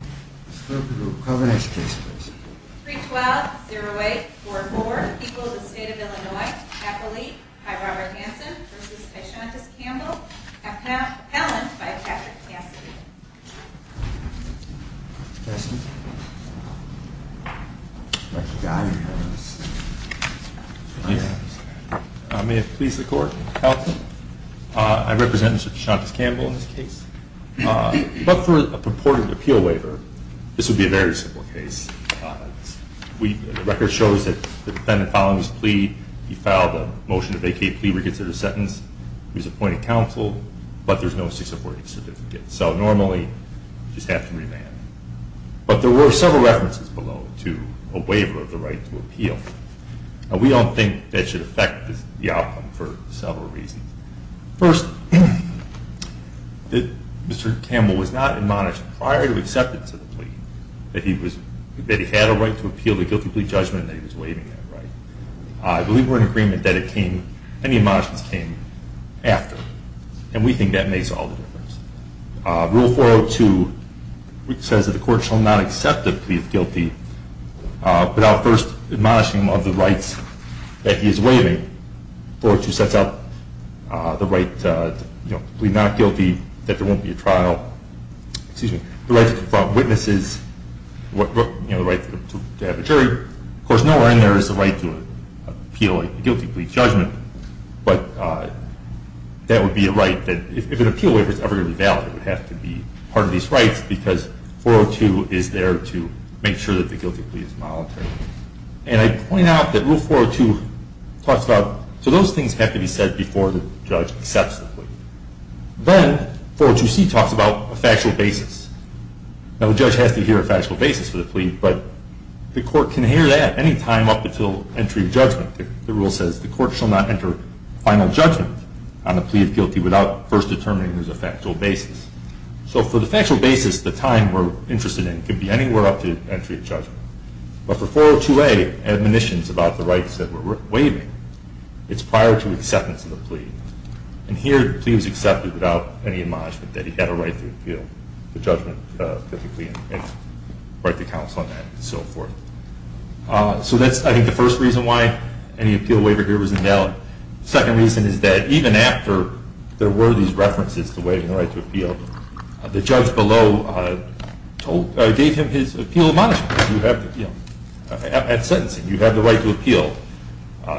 312-0844 equals the state of Illinois, happily, by Robert Hanson v. Deshantas Campbell, appellant by Patrick Cassidy. May it please the court, I represent Mr. Deshantas Campbell in this case. But for a purported appeal waiver, this would be a very simple case. The record shows that the defendant filed his plea, he filed a motion to vacate, plea reconsidered sentence, he was appointed counsel, but there's no cease of working certificate. So normally, you just have to remand. But there were several references below to a waiver of the right to appeal. We don't think that should affect the outcome for several reasons. First, Mr. Campbell was not admonished prior to acceptance of the plea that he had a right to appeal the guilty plea judgment that he was waiving that right. I believe we're in agreement that any admonishments came after. And we think that makes all the difference. Rule 402 says that the court shall not accept the plea of guilty without first admonishing him of the rights that he is waiving. 402 sets out the right to plead not guilty, that there won't be a trial, the right to confront witnesses, the right to have a jury. Of course, nowhere in there is the right to appeal a guilty plea judgment. But that would be a right that, if an appeal waiver is ever going to be valid, it would have to be part of these rights, because 402 is there to make sure that the guilty plea is monetary. And I point out that Rule 402 talks about, so those things have to be said before the judge accepts the plea. Then, 402c talks about a factual basis. Now, the judge has to hear a factual basis for the plea, but the court can hear that any time up until entry of judgment. The rule says the court shall not enter final judgment on the plea of guilty without first determining there's a factual basis. So for the factual basis, the time we're interested in could be anywhere up to entry of judgment. But for 402a, admonitions about the rights that we're waiving, it's prior to acceptance of the plea. And here, the plea was accepted without any admonishment that he had a right to appeal the judgment, the right to counsel and so forth. So that's, I think, the first reason why any appeal waiver here was invalid. The second reason is that even after there were these references to waiving the right to appeal, the judge below gave him his appeal admonishment at sentencing. You have the right to appeal.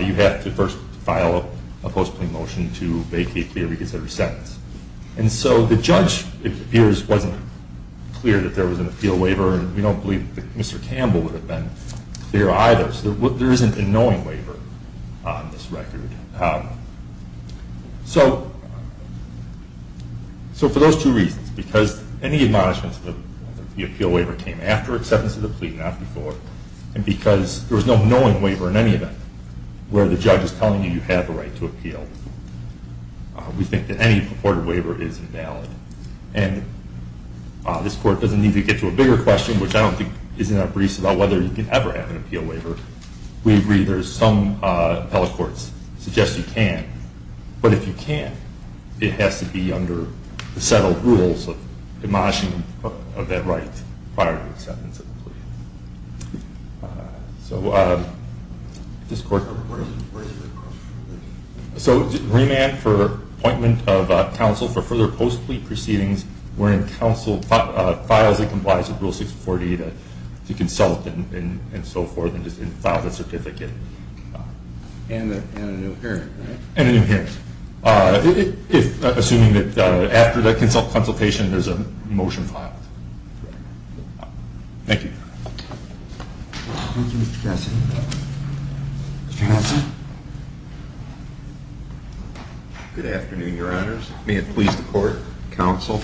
You have to first file a post-plea motion to vacate the reconsidered sentence. And so the judge, it appears, wasn't clear that there was an appeal waiver, and we don't believe that Mr. Campbell would have been clear either. So there isn't a knowing waiver on this record. So for those two reasons, because any admonishments of the appeal waiver came after acceptance of the plea, not before, and because there was no knowing waiver in any event where the judge is telling you you have a right to appeal, we think that any purported waiver is invalid. And this Court doesn't need to get to a bigger question, which I don't think is in our briefs about whether you can ever have an appeal waiver. We agree there's some appellate courts that suggest you can. But if you can't, it has to be under the settled rules of admonishing of that right prior to acceptance of the plea. So this Court... Where is the question? So remand for appointment of counsel for further post-plea proceedings wherein counsel files and complies with Rule 640 to consult and so forth and file the certificate. And a new parent, right? And a new parent, assuming that after that consult consultation there's a motion filed. Thank you. Thank you, Mr. Cassidy. Mr. Hanson. Good afternoon, Your Honors. May it please the Court. Counsel.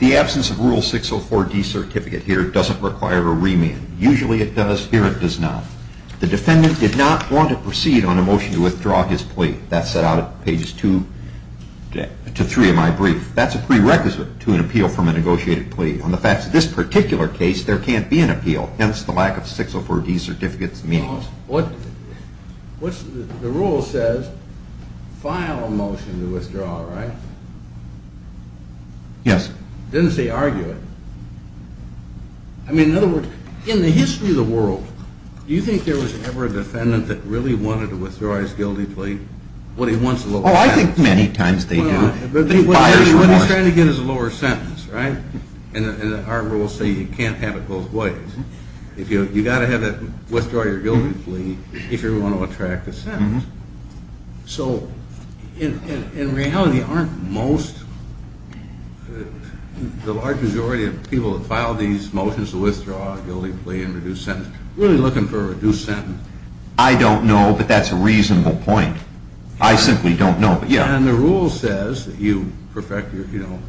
The absence of Rule 604D certificate here doesn't require a remand. Usually it does. Here it does not. The defendant did not want to proceed on a motion to withdraw his plea. That's set out at pages 2 to 3 of my brief. That's a prerequisite to an appeal from a negotiated plea. On the facts of this particular case, there can't be an appeal. Hence, the lack of 604D certificate's meaning. What the rule says, file a motion to withdraw, right? Yes. It doesn't say argue it. I mean, in other words, in the history of the world, do you think there was ever a defendant that really wanted to withdraw his guilty plea? What he wants is a lower sentence. Oh, I think many times they do. But he's trying to get his lower sentence, right? And our rules say you can't have it both ways. You've got to withdraw your guilty plea if you want to attract a sentence. So, in reality, aren't most, the large majority of people that file these motions to withdraw a guilty plea and reduce sentence really looking for a reduced sentence? I don't know, but that's a reasonable point. I simply don't know. And the rule says that you perfect your rights.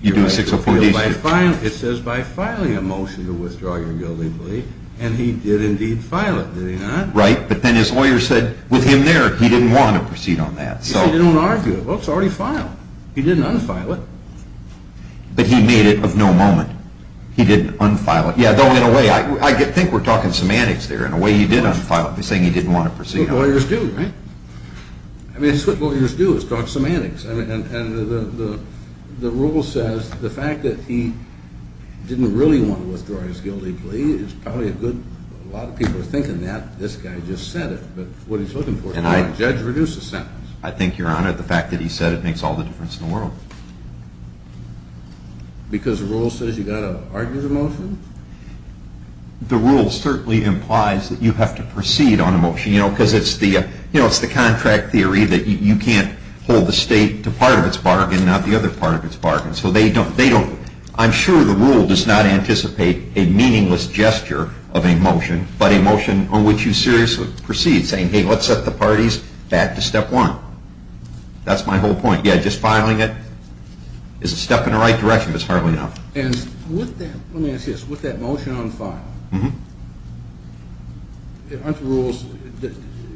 You do a 604D certificate. It says by filing a motion to withdraw your guilty plea. And he did indeed file it, did he not? Right. But then his lawyer said with him there, he didn't want to proceed on that. So you don't argue it. Well, it's already filed. He didn't unfile it. But he made it of no moment. He didn't unfile it. Yeah, though in a way, I think we're talking semantics there. In a way, he did unfile it by saying he didn't want to proceed on it. That's what lawyers do, right? I mean, that's what lawyers do is talk semantics. And the rule says the fact that he didn't really want to withdraw his guilty plea is probably a good, a lot of people are thinking that. This guy just said it. But what he's looking for is a judge-reduced sentence. I think, Your Honor, the fact that he said it makes all the difference in the world. Because the rule says you've got to argue the motion? The rule certainly implies that you have to proceed on a motion. Because it's the contract theory that you can't hold the state to part of its bargain and not the other part of its bargain. So they don't. I'm sure the rule does not anticipate a meaningless gesture of a motion, but a motion on which you seriously proceed, saying, hey, let's set the parties back to step one. That's my whole point. Yeah, just filing it is a step in the right direction, but it's hardly enough. And with that, let me ask you this. With that motion unfiled, Mm-hmm. Under the rules,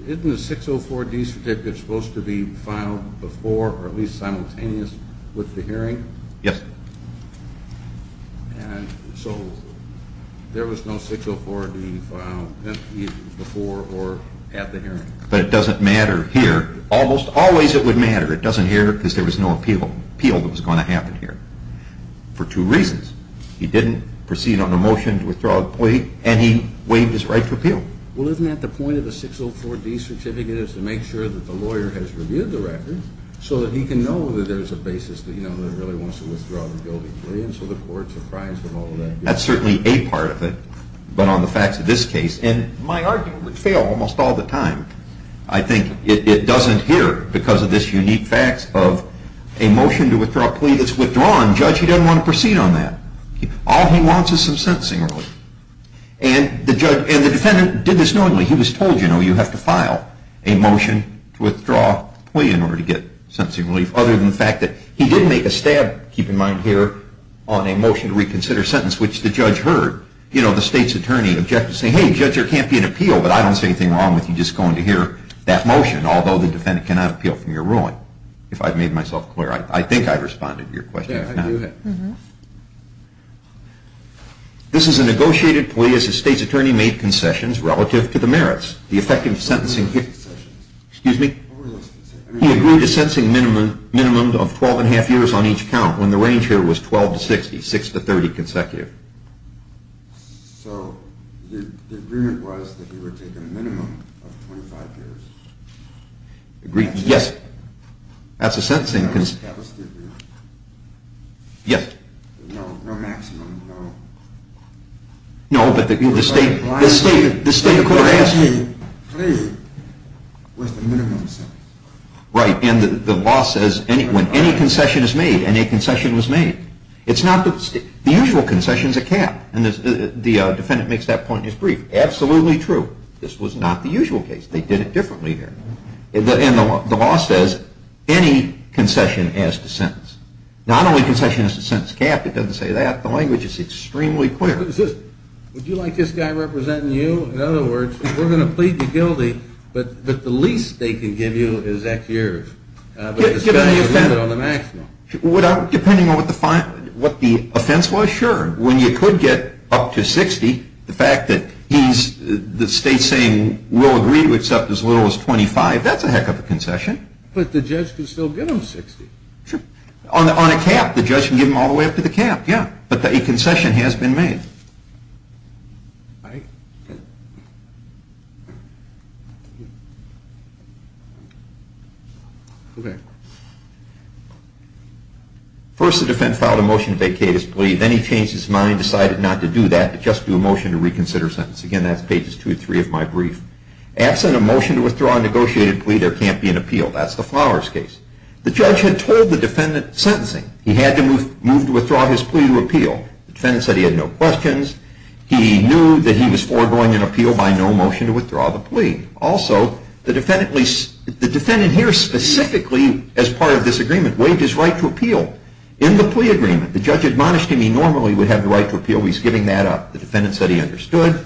isn't the 604D certificate supposed to be filed before or at least simultaneous with the hearing? Yes. And so there was no 604D filed before or at the hearing? But it doesn't matter here. Almost always it would matter. It doesn't here because there was no appeal that was going to happen here. For two reasons. He didn't proceed on a motion to withdraw a plea, and he waived his right to appeal. Well, isn't that the point of the 604D certificate is to make sure that the lawyer has reviewed the record so that he can know that there's a basis that he really wants to withdraw the guilty plea, and so the court's apprised of all of that. That's certainly a part of it, but on the facts of this case. And my argument would fail almost all the time. I think it doesn't here because of this unique fact of a motion to withdraw a plea that's withdrawn. Judge, he doesn't want to proceed on that. All he wants is some sentencing relief. And the defendant did this knowingly. He was told, you know, you have to file a motion to withdraw a plea in order to get sentencing relief, other than the fact that he did make a stab, keep in mind here, on a motion to reconsider a sentence, which the judge heard. You know, the state's attorney objected, saying, hey, Judge, there can't be an appeal, but I don't see anything wrong with you just going to hear that motion, although the defendant cannot appeal from your ruling. Now, if I've made myself clear, I think I've responded to your question. This is a negotiated plea as the state's attorney made concessions relative to the merits. The effect of sentencing... Excuse me? He agreed to sentencing minimum of 12 1⁄2 years on each count, when the range here was 12 to 60, 6 to 30 consecutive. So the agreement was that he would take a minimum of 25 years. Agreed? Yes. That's a sentencing... Yes. No, no maximum, no... No, but the state, the state, the state court has... The plea was the minimum sentence. Right, and the law says when any concession is made, and a concession was made, it's not the... the usual concession's a cap, and the defendant makes that point in his brief. Absolutely true. This was not the usual case. They did it differently here. And the law says any concession has to sentence. Not only concession has to sentence cap. It doesn't say that. The language is extremely clear. Would you like this guy representing you? In other words, we're going to plead the guilty, but the least they can give you is X years. But the value is limited on the maximum. Depending on what the offense was, sure. When you could get up to 60, the fact that he's... the state's saying we'll agree to accept as little as 25, that's a heck of a concession. But the judge can still give him 60. Sure. On a cap, the judge can give him all the way up to the cap, yeah. But a concession has been made. Right. Okay. First, the defendant filed a motion to vacate his plea. Then he changed his mind and decided not to do that, but just do a motion to reconsider his sentence. Again, that's pages 2 and 3 of my brief. Absent a motion to withdraw a negotiated plea, there can't be an appeal. That's the Flowers case. The judge had told the defendant sentencing. He had to move to withdraw his plea to appeal. The defendant said he had no questions. He knew that he was foregoing an appeal by no motion to withdraw the plea. Also, the defendant here specifically, as part of this agreement, waived his right to appeal. In the plea agreement, the judge admonished him he normally would have the right to appeal. He's giving that up. The defendant said he understood.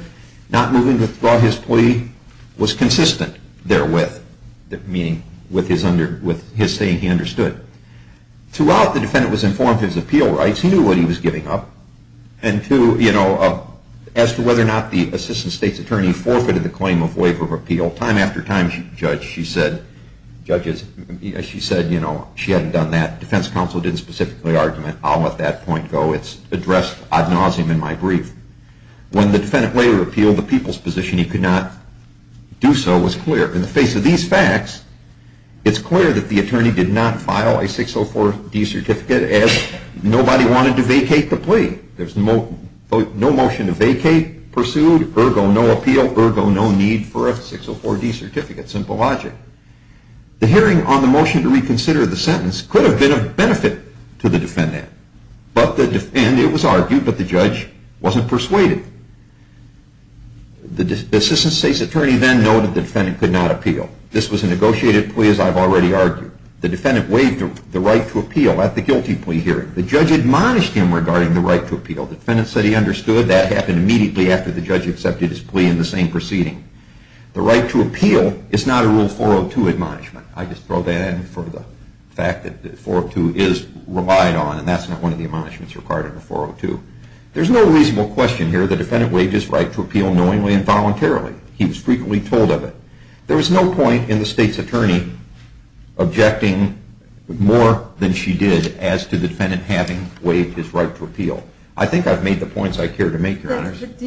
Not moving to withdraw his plea was consistent therewith, meaning with his saying he understood. Throughout, the defendant was informed of his appeal rights. He knew what he was giving up. As to whether or not the assistant state's attorney forfeited the claim of waiver of appeal, time after time, she said she hadn't done that. Defense counsel didn't specifically argument. I'll let that point go. It's addressed ad nauseum in my brief. When the defendant waived the appeal, the people's position he could not do so was clear. In the face of these facts, it's clear that the attorney did not file a 604D certificate as nobody wanted to vacate the plea. There's no motion to vacate pursued, ergo no appeal, ergo no need for a 604D certificate. Simple logic. The hearing on the motion to reconsider the sentence could have been of benefit to the defendant, and it was argued, but the judge wasn't persuaded. The assistant state's attorney then noted the defendant could not appeal. This was a negotiated plea, as I've already argued. The defendant waived the right to appeal at the guilty plea hearing. The judge admonished him regarding the right to appeal. The defendant said he understood. That happened immediately after the judge accepted his plea in the same proceeding. The right to appeal is not a Rule 402 admonishment. I just throw that in for the fact that 402 is relied on, and that's not one of the admonishments required under 402. There's no reasonable question here. The defendant waived his right to appeal knowingly and voluntarily. He was frequently told of it. There was no point in the state's attorney objecting more than she did as to the defendant having waived his right to appeal. I think I've made the points I care to make, Your Honors. But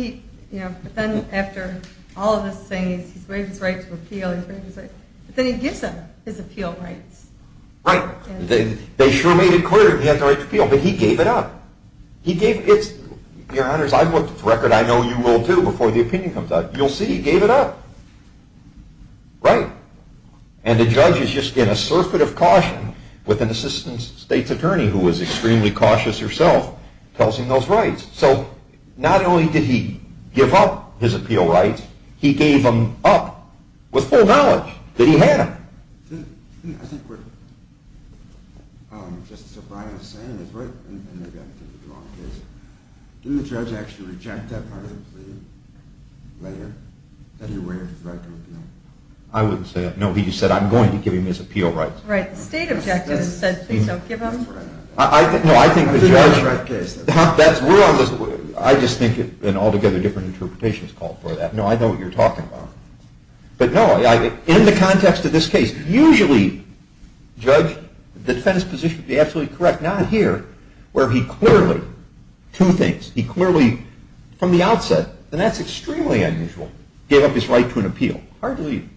then after all of this saying he's waived his right to appeal, then he gives them his appeal rights. Right. They sure made it clear he had the right to appeal, but he gave it up. Your Honors, I've looked at the record. I know you will, too, before the opinion comes out. You'll see he gave it up. Right. And the judge is just in a circuit of caution with an assistant state's attorney who is extremely cautious herself, tells him those rights. So not only did he give up his appeal rights, he gave them up with full knowledge that he had them. I think we're just surprised. Do the judge actually reject that part of the plea later, that he waived his right to appeal? I wouldn't say that. No, he just said, I'm going to give him his appeal rights. Right. The state objected and said, please don't give them. No, I think the judge – I think that's the right case. I just think an altogether different interpretation is called for that. No, I know what you're talking about. But, no, in the context of this case, usually, Judge, the defendant's position would be absolutely correct. Not here, where he clearly – two things. He clearly, from the outset, and that's extremely unusual, gave up his right to an appeal.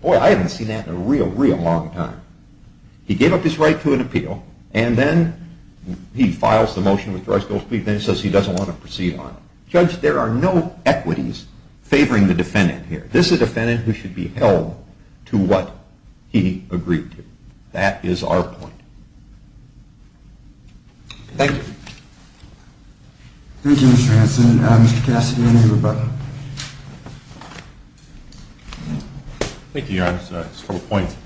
Boy, I haven't seen that in a real, real long time. He gave up his right to an appeal, and then he files the motion with the right to appeal, and then he says he doesn't want to proceed on it. Judge, there are no equities favoring the defendant here. This is a defendant who should be held to what he agreed to. That is our point. Thank you. Thank you, Mr. Hanson. Mr. Cassidy, any rebuttal? Thank you, Your Honor. Just a couple of points.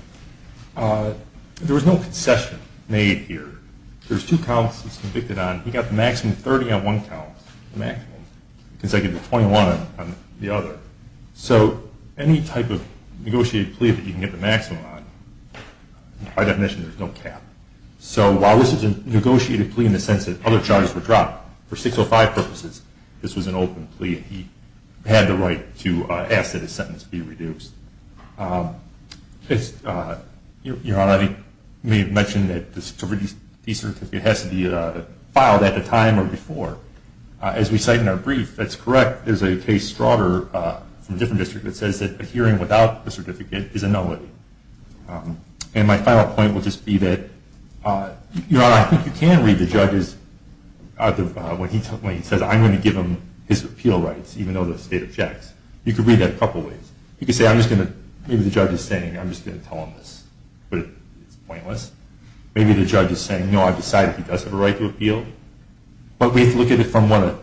There was no concession made here. There's two counts it's convicted on. He got the maximum of 30 on one count, the maximum, consecutive of 21 on the other. So any type of negotiated plea that you can get the maximum on, by definition, there's no cap. So while this is a negotiated plea in the sense that other charges were dropped, for 605 purposes, this was an open plea, and he had the right to ask that his sentence be reduced. Your Honor, I may have mentioned that the certificate has to be filed at the time or before. As we cite in our brief, that's correct. There's a case from a different district that says that a hearing without a certificate is a nullity. And my final point would just be that, Your Honor, I think you can read the judge's, when he says, I'm going to give him his appeal rights, even though the state objects. You could read that a couple ways. You could say, I'm just going to, maybe the judge is saying, I'm just going to tell him this, but it's pointless. Maybe the judge is saying, no, I've decided he does have a right to appeal. But we have to look at it from what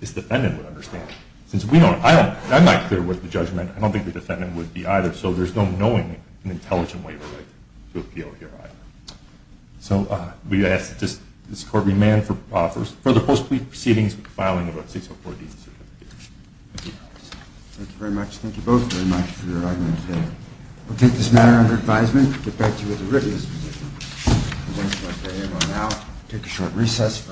his defendant would understand. Since we don't, I'm not clear what the judgment, I don't think the defendant would be either, so there's no knowing an intelligent waiver right to appeal here either. So we ask that this court remain for further post-plea proceedings with filing of a 604-D certificate. Thank you. Thank you very much. Thank you both very much for your argument today. We'll take this matter under advisement, get back to you with a written statement on it, take a short recess.